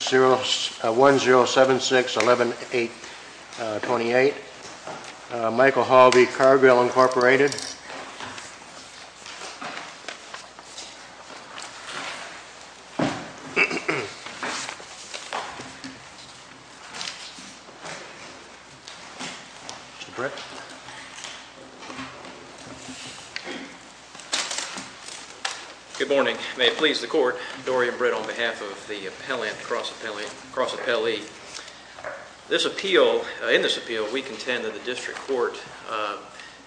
1-076-11828 Michael Hall v. Cargill Incorporated Good morning. May it please the court, Dorian Britt on behalf of the Appellant Cross Appellee. This appeal, in this appeal, we contend that the District Court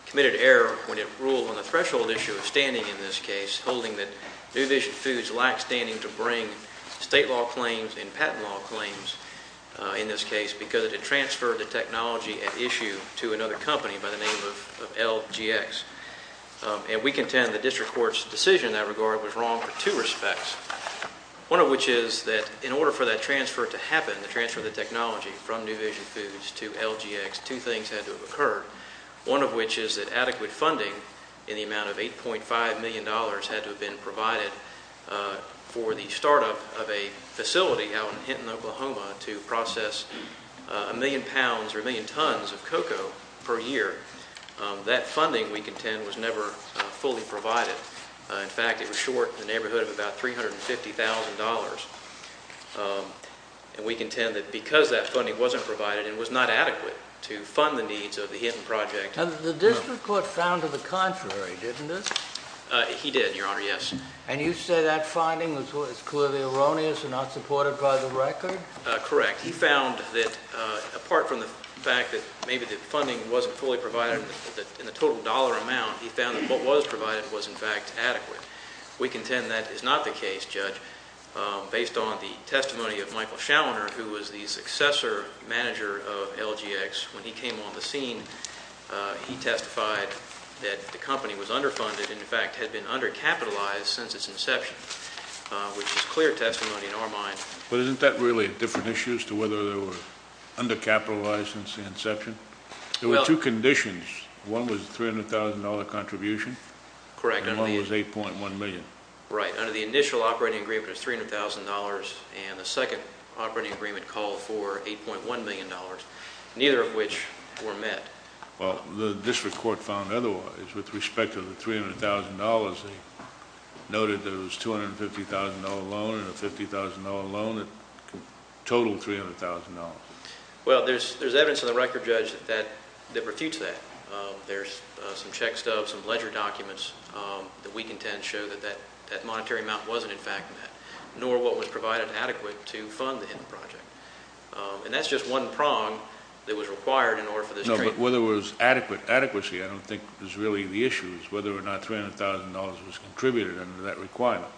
committed error when it ruled on the threshold issue of standing in this case, holding that New Vision Foods lacked standing to bring state law claims and patent law claims in this case because it had transferred the technology at issue to another company by the name of LGX. And we contend the District Court's decision in that regard was wrong for two things. In order for that transfer to happen, the transfer of the technology from New Vision Foods to LGX, two things had to have occurred, one of which is that adequate funding in the amount of $8.5 million had to have been provided for the startup of a facility out in Hinton, Oklahoma, to process a million pounds or a million tons of cocoa per year. That funding, we contend, was never fully provided. In fact, it was short in the neighborhood of about $350,000. And we contend that because that funding wasn't provided and was not adequate to fund the needs of the Hinton project. And the District Court found to the contrary, didn't it? He did, Your Honor, yes. And you say that finding was clearly erroneous and not supported by the record? Correct. He found that, apart from the fact that maybe the funding wasn't fully provided in the total dollar amount, he found that what was provided was, in We contend that is not the case, Judge, based on the testimony of Michael Schallner, who was the successor manager of LGX. When he came on the scene, he testified that the company was underfunded and, in fact, had been undercapitalized since its inception, which is clear testimony in our mind. But isn't that really a different issue as to whether they were undercapitalized since the inception? There were two conditions. One was a $300,000 contribution. Correct. And one was $8.1 million. Right. Under the initial operating agreement, it was $300,000, and the second operating agreement called for $8.1 million, neither of which were met. Well, the District Court found otherwise with respect to the $300,000. They noted there was a $250,000 loan and a $50,000 loan that totaled $300,000. Well, there's evidence in the record, Judge, that refutes that. There's some check stubs, some ledger documents that we can tend to show that that monetary amount wasn't, in fact, met, nor what was provided adequate to fund the project. And that's just one prong that was required in order for this trade. No, but whether it was adequate adequacy I don't think is really the issue. It's whether or not $300,000 was contributed under that requirement.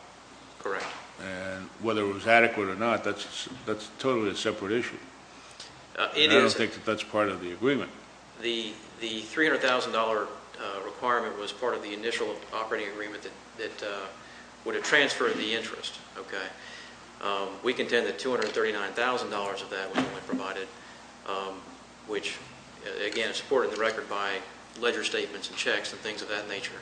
Correct. And whether it was adequate or not, that's totally a separate issue. It is. I don't think that that's part of the agreement. The $300,000 requirement was part of the initial operating agreement that would have transferred the interest. We contend that $239,000 of that was only provided, which, again, is supported in the record by ledger statements and checks and things of that nature.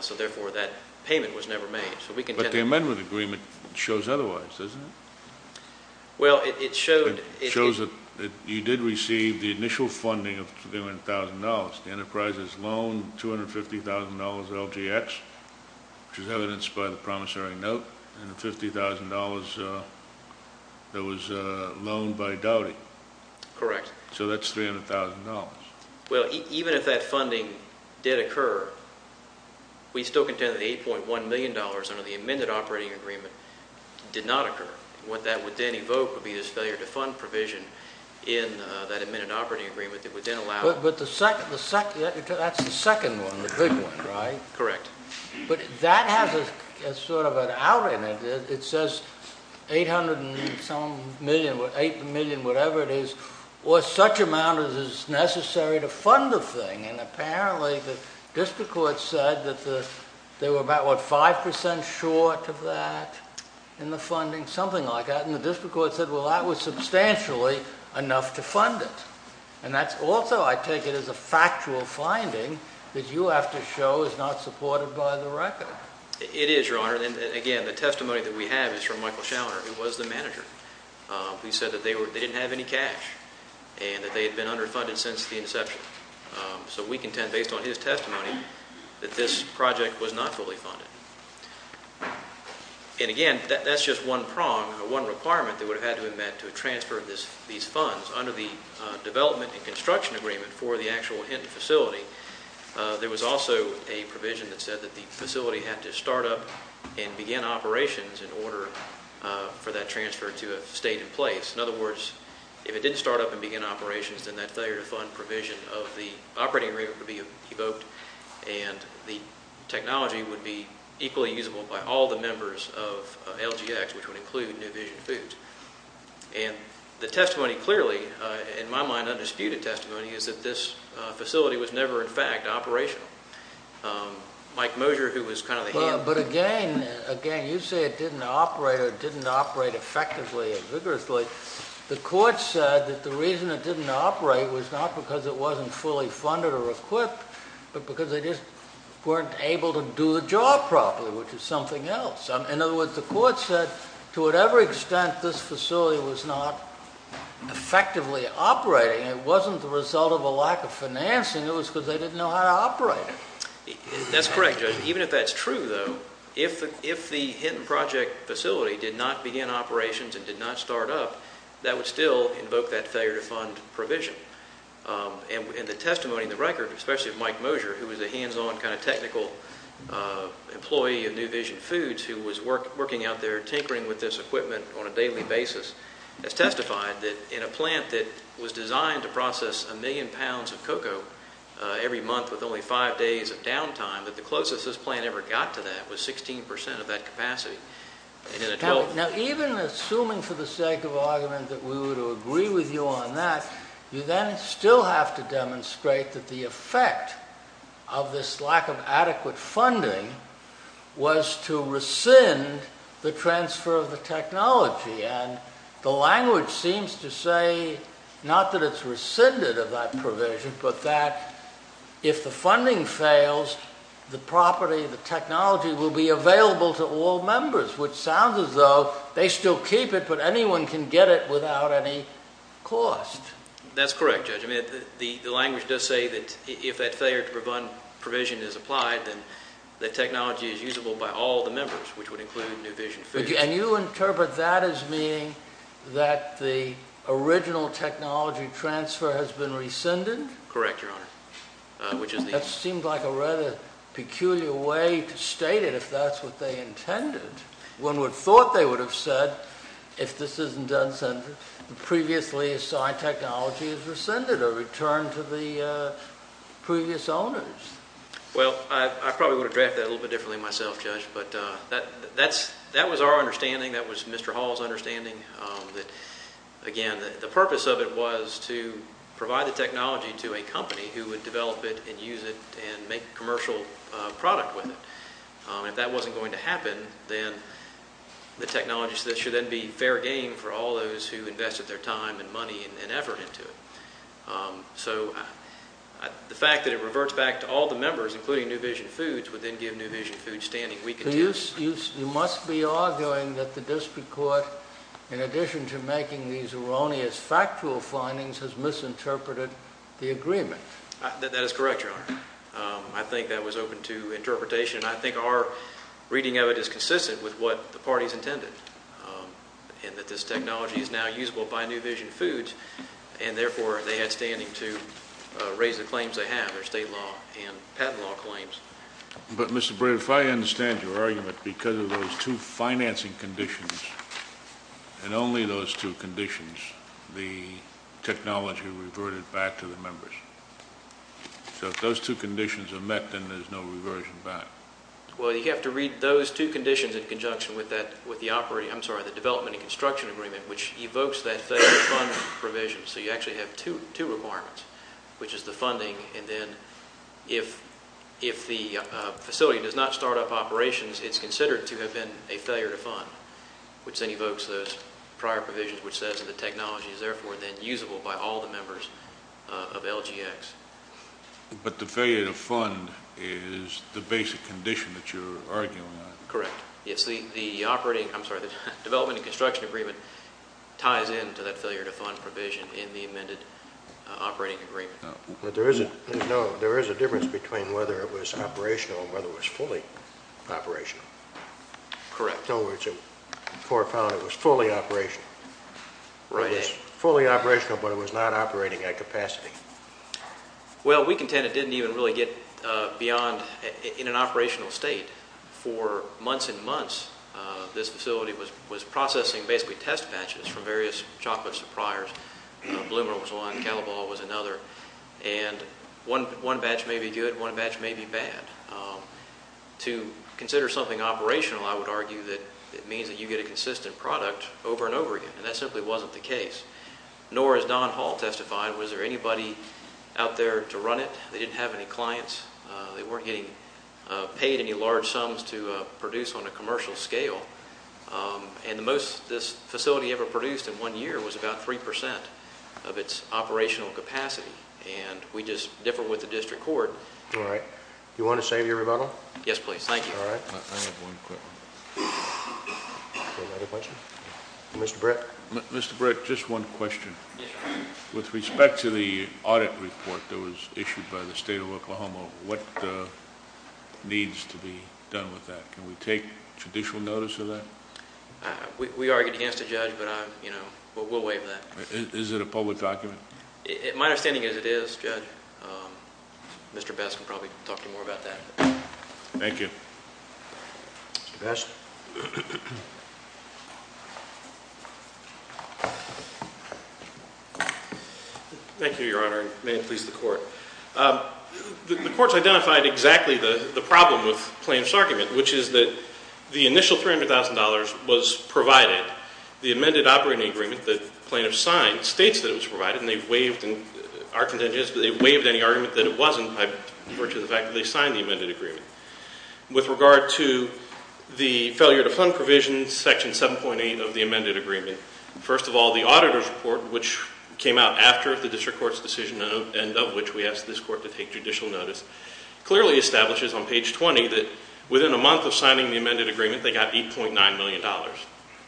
So, therefore, that payment was never made. But the amendment agreement shows otherwise, doesn't it? It shows that you did receive the initial funding of $300,000. The enterprise has loaned $250,000 at LGX, which is evidenced by the promissory note, and the $50,000 that was loaned by Dowdy. Correct. So that's $300,000. Well, even if that funding did occur, we still contend that the $8.1 million under the amended operating agreement did not occur. What that would then evoke would be this failure to fund provision in that amended operating agreement that would then allow... But that's the second one, the big one, right? Correct. But that has sort of an out in it. It says $8.1 million, whatever it is, or such amount as is necessary to fund the thing, and apparently the district court said that they were about, what, 5% short of that in the funding? Something like that. And the district court said, well, that was substantially enough to fund it. And that's also, I take it, as a factual finding that you have to show is not supported by the record. It is, Your Honor. Again, the testimony that we have is from Michael Schallner, who was the manager. He said that they didn't have any cash and that they had been underfunded since the inception. So we contend, based on his testimony, that this project was not fully funded. And again, that's just one prong or one requirement that would have had to have been met to transfer these funds under the development and construction agreement for the actual Hinton facility. There was also a provision that said that the facility had to start up and begin operations in order for that transfer to have stayed in place. In other words, if it didn't start up and begin operations, then that failure to fund provision of the operating agreement would be evoked and the technology would be equally usable by all the members of LGX, which would include New Vision Foods. And the testimony clearly, in my mind, undisputed testimony, is that this facility was never, in fact, operational. Mike Mosher, who was kind of the hand... But again, you say it didn't operate or it didn't operate effectively and vigorously. The court said that the reason it didn't operate was not because it wasn't fully installed properly, which is something else. In other words, the court said to whatever extent this facility was not effectively operating, it wasn't the result of a lack of financing. It was because they didn't know how to operate it. That's correct, Judge. Even if that's true, though, if the Hinton Project facility did not begin operations and did not start up, that would still invoke that failure to fund provision. And the testimony in the record, especially of Mike Mosher, who was a hands-on kind of technical employee of New Vision Foods who was working out there tinkering with this equipment on a daily basis, has testified that in a plant that was designed to process a million pounds of cocoa every month with only five days of downtime, that the closest this plant ever got to that was 16% of that capacity. Now, even assuming for the sake of argument that we would agree with you on that, you then still have to demonstrate that the effect of this lack of adequate funding was to rescind the transfer of the technology. And the language seems to say not that it's rescinded of that provision, but that if the funding fails, the property, the technology, will be available to all members, which sounds as though they still keep it, but anyone can get it lost. That's correct, Judge. I mean, the language does say that if that failure to fund provision is applied, then the technology is usable by all the members, which would include New Vision Foods. And you interpret that as meaning that the original technology transfer has been rescinded? Correct, Your Honor. That seemed like a rather peculiar way to state it, if that's what they intended. One would have thought they would have said, if this isn't done, previously assigned technology is rescinded or returned to the previous owners. Well, I probably would have drafted that a little bit differently myself, Judge, but that was our understanding. That was Mr. Hall's understanding. Again, the purpose of it was to provide the technology to a company who would develop it and use it and make a commercial product with it. If that wasn't going to happen, then the technology should then be fair game for all those who invested their time and money and effort into it. So the fact that it reverts back to all the members, including New Vision Foods, would then give New Vision Foods standing weak in terms of You must be arguing that the district court, in addition to making these erroneous factual findings, has misinterpreted the agreement. That is correct, Your Honor. I think that was open to interpretation, and I think our reading of it is is now usable by New Vision Foods, and therefore they had standing to raise the claims they have, their state law and patent law claims. But, Mr. Brady, if I understand your argument, because of those two financing conditions and only those two conditions, the technology reverted back to the members. So if those two conditions are met, then there's no reversion back. Well, you have to read those two conditions in conjunction with the development and construction agreement, which evokes that failure to fund provision. So you actually have two requirements, which is the funding, and then if the facility does not start up operations, it's considered to have been a failure to fund, which then evokes those prior provisions, which says that the technology is therefore then usable by all the members of LGX. But the failure to fund is the basic condition that you're arguing on. Correct. The development and construction agreement ties into that failure to fund provision in the amended operating agreement. But there is a difference between whether it was operational and whether it was fully operational. Correct. In other words, it was fully operational. Right. It was fully operational, but it was not operating at capacity. Well, we contend it didn't even really get beyond in an operational state for months and months. This facility was processing basically test batches from various chocolate suppliers. Bloomer was one. Callebaut was another. And one batch may be good. One batch may be bad. To consider something operational, I would argue that it means that you get a consistent product over and over again, and that simply wasn't the case. Nor, as Don Hall testified, was there anybody out there to run it. They didn't have any clients. They weren't getting paid any large sums to produce on a commercial scale. And the most this facility ever produced in one year was about 3% of its operational capacity. And we just differ with the district court. All right. Do you want to say your rebuttal? Yes, please. Thank you. All right. I have one quick one. Any other questions? Mr. Britt. Mr. Britt, just one question. With respect to the audit report that was issued by the state of Minnesota, what needs to be done with that? Can we take judicial notice of that? We argued against it, Judge, but we'll waive that. Is it a public document? My understanding is it is, Judge. Mr. Best can probably talk to you more about that. Thank you. Mr. Best. Thank you, Your Honor, and may it please the Court. The Court's identified exactly the problem with Plaintiff's argument, which is that the initial $300,000 was provided. The amended operating agreement that Plaintiff signed states that it was provided, and they waived any argument that it wasn't, by virtue of the fact that they signed the amended agreement. With regard to the failure to fund provision, Section 7.8 of the amended agreement, first of all, the auditor's report, which came out after the district court's decision and of which we asked this Court to take judicial notice, clearly establishes on page 20 that within a month of signing the amended agreement, they got $8.9 million.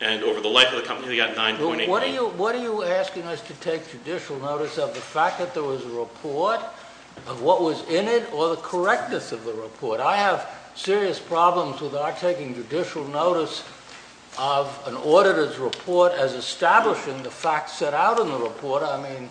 And over the life of the company, they got $9.8 million. What are you asking us to take judicial notice of? The fact that there was a report of what was in it, or the correctness of the report? I have serious problems with our taking judicial notice of an auditor's report as establishing the facts set out in the report. I mean,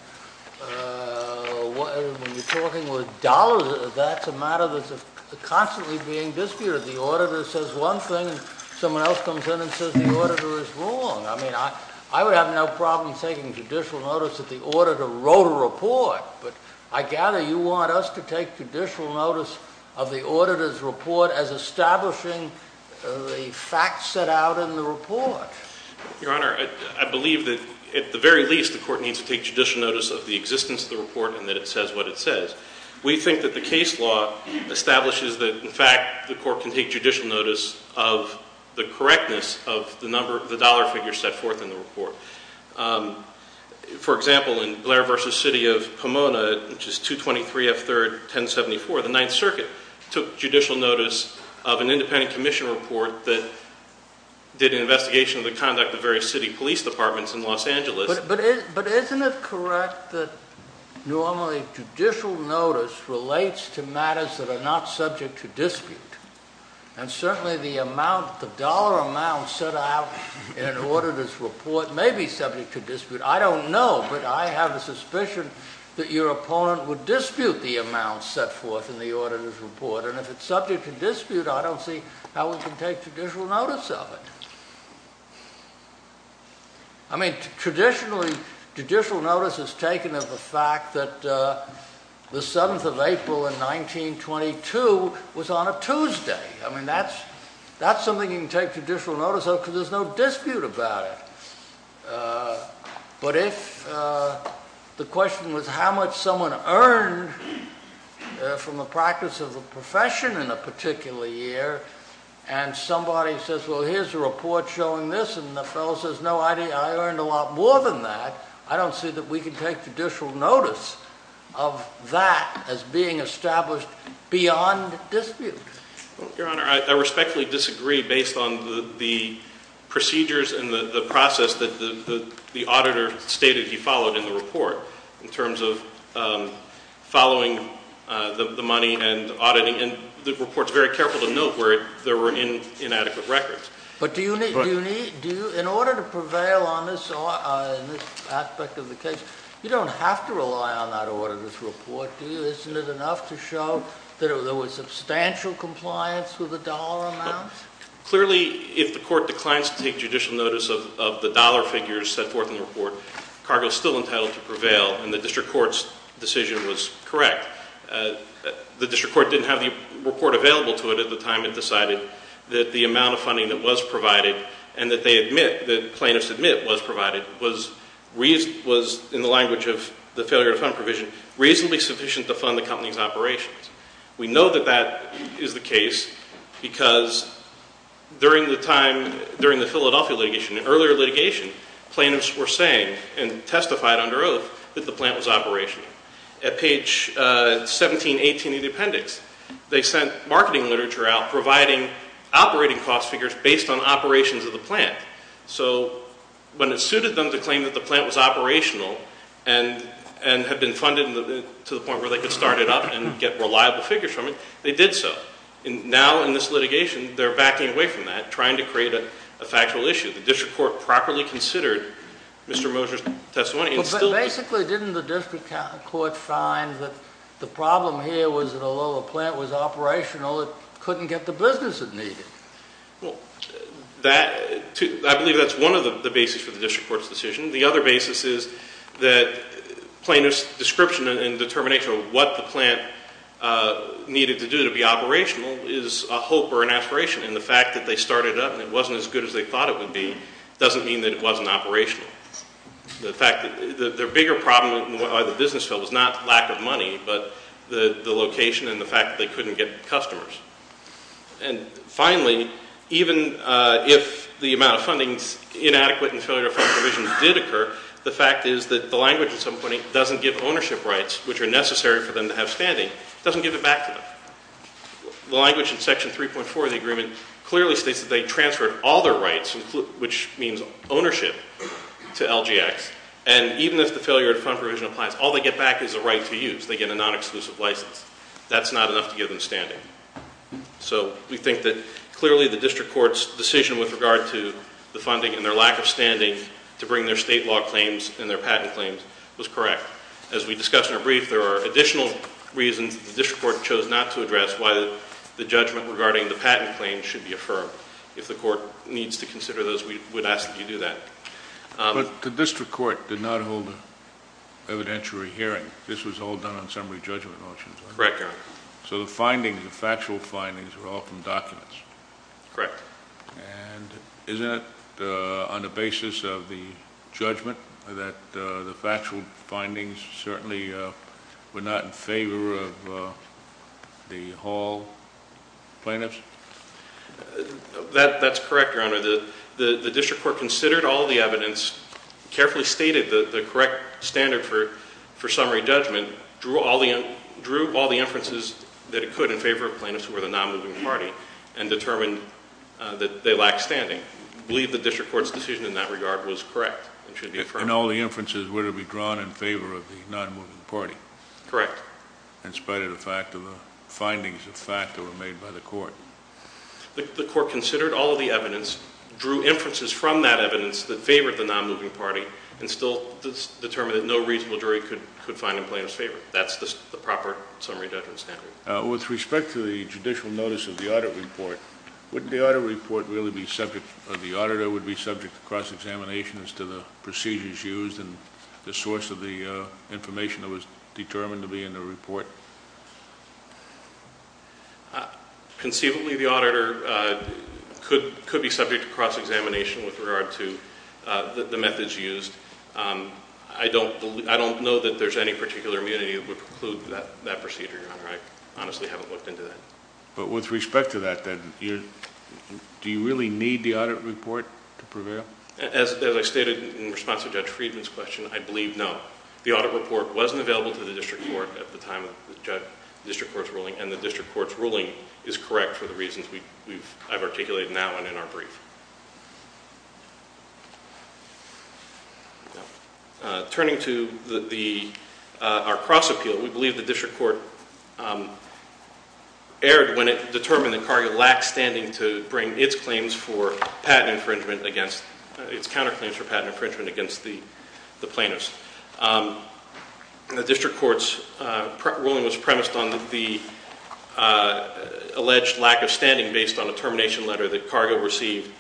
when you're talking with dollars, that's a matter that's constantly being disputed. The auditor says one thing, and someone else comes in and says, the auditor is wrong. I mean, I would have no problem taking judicial notice if the auditor wrote a report. But I gather you want us to take judicial notice of the auditor's report as establishing the facts set out in the report. Your Honor, I believe that at the very least, the court needs to take judicial notice of the existence of the report and that it says what it says. We think that the case law establishes that, in fact, the court can take judicial notice of the correctness of the dollar figure set forth in the report. For example, in Blair v. City of Pomona, which is 223F3-1074, the Ninth Circuit took judicial notice of an independent commission report that did an investigation of the conduct of various city police departments in Los Angeles. But isn't it correct that normally judicial notice relates to matters that are not subject to dispute? And certainly the dollar amount set out in an auditor's report may be subject to dispute. I don't know, but I have a suspicion that your opponent would dispute the amount set forth in the auditor's report. And if it's subject to dispute, I don't see how we can take judicial notice of it. I mean, traditionally, judicial notice is taken of the fact that the 7th of April in 1922 was on a Tuesday. I mean, that's something you can take judicial notice of because there's no dispute about it. But if the question was how much someone earned from the practice of the profession in a particular year, and somebody says, well, here's a report showing this, and the fellow says, no, I earned a lot more than that, I don't see that we can take judicial notice of that as being established beyond dispute. Your Honor, I respectfully disagree based on the procedures and the process that the auditor stated he followed in the report in terms of following the money and auditing. And the report's very careful to note where there were inadequate records. But in order to prevail on this aspect of the case, you don't have to rely on that auditor's report, do you? Isn't it enough to show that there was substantial compliance with the dollar amount? Clearly, if the court declines to take judicial notice of the dollar figures set forth in the report, cargo is still entitled to prevail, and the district court's decision was correct. The district court didn't have the report available to it at the time it decided that the amount of funding that was provided and that they admit, that plaintiffs admit was provided, was, in the language of the failure to fund provision, reasonably sufficient to fund the company's operations. We know that that is the case because during the Philadelphia litigation, in earlier litigation, plaintiffs were saying and testified under oath that the plant was operational. At page 1718 of the appendix, they sent marketing literature out providing operating cost figures based on operations of the plant. So when it suited them to claim that the plant was operational and had been funded to the point where they could start it up and get reliable figures from it, they did so. Now, in this litigation, they're backing away from that, trying to create a factual issue. The district court properly considered Mr. Moser's testimony. Basically, didn't the district court find that the problem here was that although the plant was operational, it couldn't get the business it needed? I believe that's one of the basis for the district court's decision. The other basis is that plaintiff's description and determination of what the plant needed to do to be operational is a hope or an aspiration. And the fact that they started up and it wasn't as good as they thought it would be doesn't mean that it wasn't operational. The bigger problem by the business fell was not lack of money, but the location and the fact that they couldn't get customers. And finally, even if the amount of funding's inadequate and failure to fund provision did occur, the fact is that the language at some point doesn't give ownership rights, which are necessary for them to have standing, doesn't give it back to them. The language in Section 3.4 of the agreement clearly states that they transferred all their rights, which means ownership, to LGX. And even if the failure to fund provision applies, all they get back is a right to use. They get a non-exclusive license. That's not enough to give them standing. So we think that clearly the district court's decision with regard to the funding and their lack of standing to bring their state law claims and their patent claims was correct. As we discussed in our brief, there are additional reasons why the district court chose not to address why the judgment regarding the patent claims should be affirmed. If the court needs to consider those, we would ask that you do that. But the district court did not hold an evidentiary hearing. This was all done on summary judgment motions, right? Correct, Your Honor. So the findings, the factual findings, were all from documents? Correct. And isn't it on the basis of the judgment that the factual findings certainly were not in favor of the Hall plaintiffs? That's correct, Your Honor. The district court considered all the evidence, carefully stated the correct standard for summary judgment, drew all the inferences that it could in favor of plaintiffs who were the non-moving party, and determined that they lacked standing. We believe the district court's decision in that regard was correct and should be affirmed. And all the inferences were to be drawn in favor of the non-moving party? Correct. In spite of the findings of fact that were made by the court? The court considered all of the evidence, drew inferences from that evidence that favored the non-moving party, and still determined that no reasonable jury could find a plaintiff's favor. That's the proper summary judgment standard. With respect to the judicial notice of the audit report, wouldn't the audit report really be subject or the auditor would be subject to cross-examination as to the procedures used and the source of the information that was determined to be in the report? Conceivably, the auditor could be subject to cross-examination with regard to the methods used. I don't know that there's any particular immunity that would preclude that procedure, Your Honor. I honestly haven't looked into that. But with respect to that, then, do you really need the audit report to prevail? As I stated in response to Judge Friedman's question, I believe no. The audit report wasn't available to the district court at the time of the district court's ruling, and the district court's ruling is correct for the reasons I've articulated now and in our brief. Turning to our cross-appeal, we believe the district court erred when it determined that Cargill lacked standing to bring its claims for patent infringement against the plaintiffs. In the district court's ruling, it was premised on the alleged lack of standing based on a termination letter that Cargill received.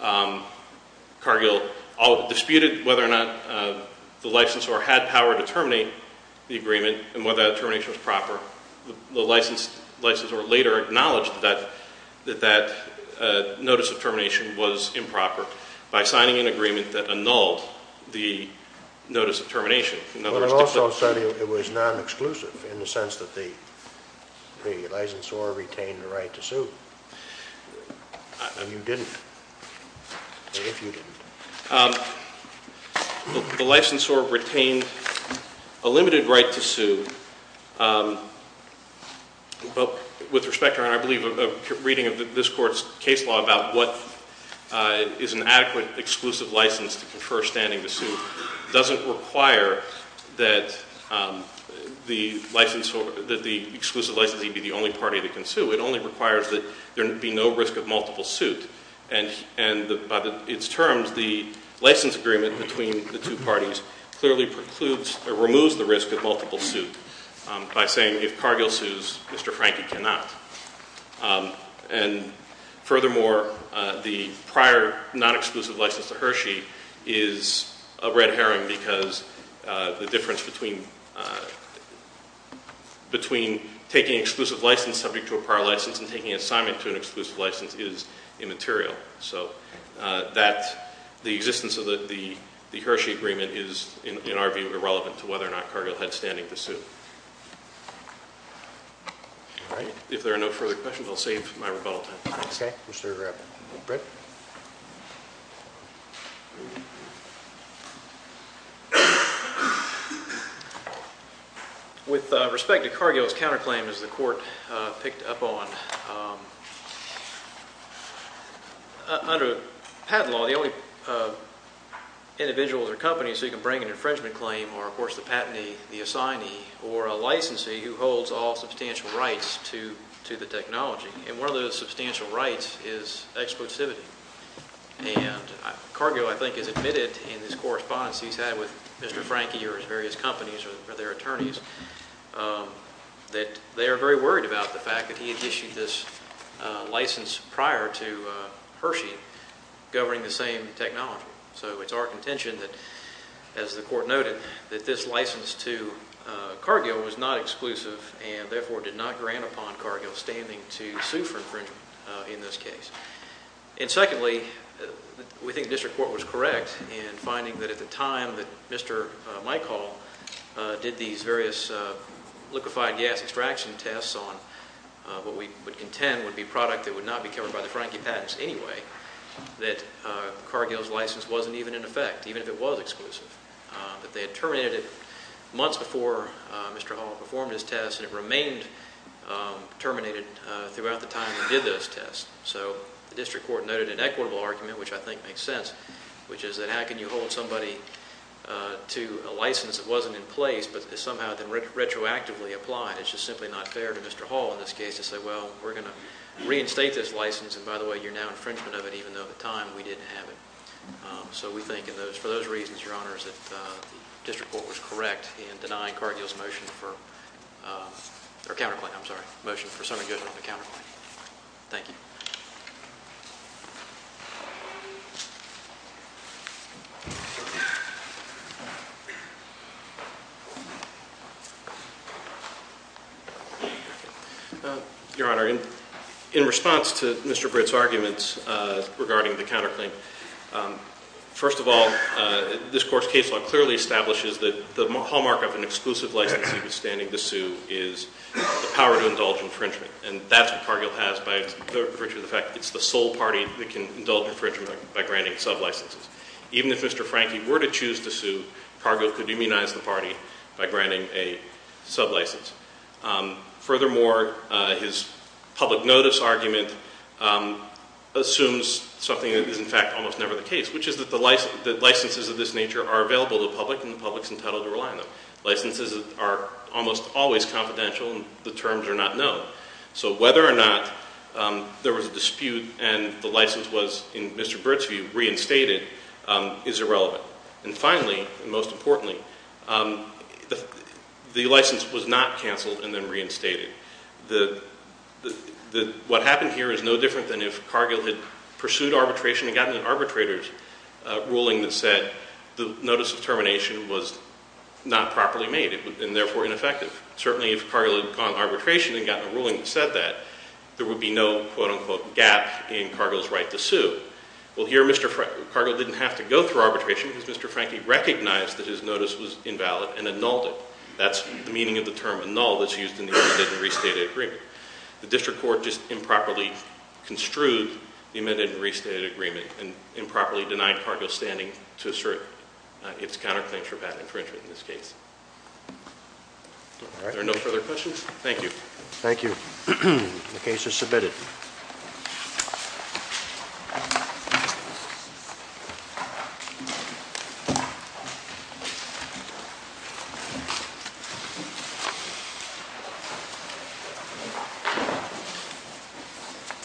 Cargill disputed whether or not the licensor had power to terminate the agreement and whether that termination was proper. The licensor later acknowledged that that notice of termination was improper by signing an agreement that annulled the notice of termination. You also said it was non-exclusive in the sense that the licensor retained the right to sue. You didn't, if you didn't. The licensor retained a limited right to sue. With respect, Your Honor, I believe a reading of this court's case law about what is an adequate exclusive license to confer standing to sue doesn't require that the exclusive licensee be the only party that can sue. It only requires that there be no risk of multiple suit. And by its terms, the license agreement between the two parties clearly precludes or removes the risk of multiple suit by saying if Cargill sues, Mr. Franke cannot. And furthermore, the prior non-exclusive license to Hershey is a red herring because the difference between taking exclusive license subject to a prior license and taking assignment to an exclusive license is immaterial. So the existence of the Hershey agreement is, in our view, irrelevant to whether or not Cargill had standing to sue. All right. If there are no further questions, I'll save my rebuttal time. Okay. Mr. Graff. Brett. With respect to Cargill's counterclaim, as the court picked up on, under patent law, the only individuals or companies who can bring an infringement claim are, of course, the patentee, the assignee, or a licensee who holds all substantial rights to the technology. And one of those substantial rights is exclusivity. And Cargill, I think, has admitted in his correspondence he's had with Mr. Franke or his various companies or their attorneys that they are very worried about the fact that he had issued this license prior to Hershey governing the same technology. So it's our contention that, as the court noted, that this license to Cargill was not exclusive and therefore did not grant upon Cargill standing to sue for infringement in this case. And secondly, we think the district court was correct in finding that at the time that Mr. Michal did these various liquefied gas extraction tests on what we would contend would be a product that would not be covered by the Franke patents anyway, that Cargill's license wasn't even in effect, even if it was exclusive, that they had terminated it months before Mr. Hall performed his tests and it remained terminated throughout the time he did those tests. So the district court noted an equitable argument, which I think makes sense, which is that how can you hold somebody to a license that wasn't in place but is somehow then retroactively applied? It's just simply not fair to Mr. Hall in this case to say, well, we're going to reinstate this license, and by the way, you're now infringement of it, even though at the time we didn't have it. So we think for those reasons, Your Honors, that the district court was correct in denying Cargill's motion for summary judgment of the counterclaim. Thank you. Your Honor, in response to Mr. Britt's arguments regarding the counterclaim, first of all, this court's case law clearly establishes that the hallmark of an exclusive license withstanding the sue is the power to indulge infringement, and that's what Cargill has by virtue of its license, by virtue of the fact that it's the sole party that can indulge infringement by granting sublicenses. Even if Mr. Franke were to choose to sue, Cargill could immunize the party by granting a sublicense. Furthermore, his public notice argument assumes something that is in fact almost never the case, which is that licenses of this nature are available to the public, and the public's entitled to rely on them. Licenses are almost always confidential, and the terms are not known. So whether or not there was a dispute and the license was, in Mr. Britt's view, reinstated is irrelevant. And finally, and most importantly, the license was not canceled and then reinstated. What happened here is no different than if Cargill had pursued arbitration and gotten an arbitrator's ruling that said the notice of termination was not properly made and therefore ineffective. Certainly, if Cargill had gone arbitration and gotten a ruling that said that, there would be no quote-unquote gap in Cargill's right to sue. Well, here, Mr. Franke, Cargill didn't have to go through arbitration because Mr. Franke recognized that his notice was invalid and annulled it. That's the meaning of the term annull that's used in the amended and restated agreement. The district court just improperly construed the amended and restated agreement and improperly denied Cargill standing to assert its counterclaims for patent infringement in this case. Are there no further questions? Thank you. Thank you. The case is submitted.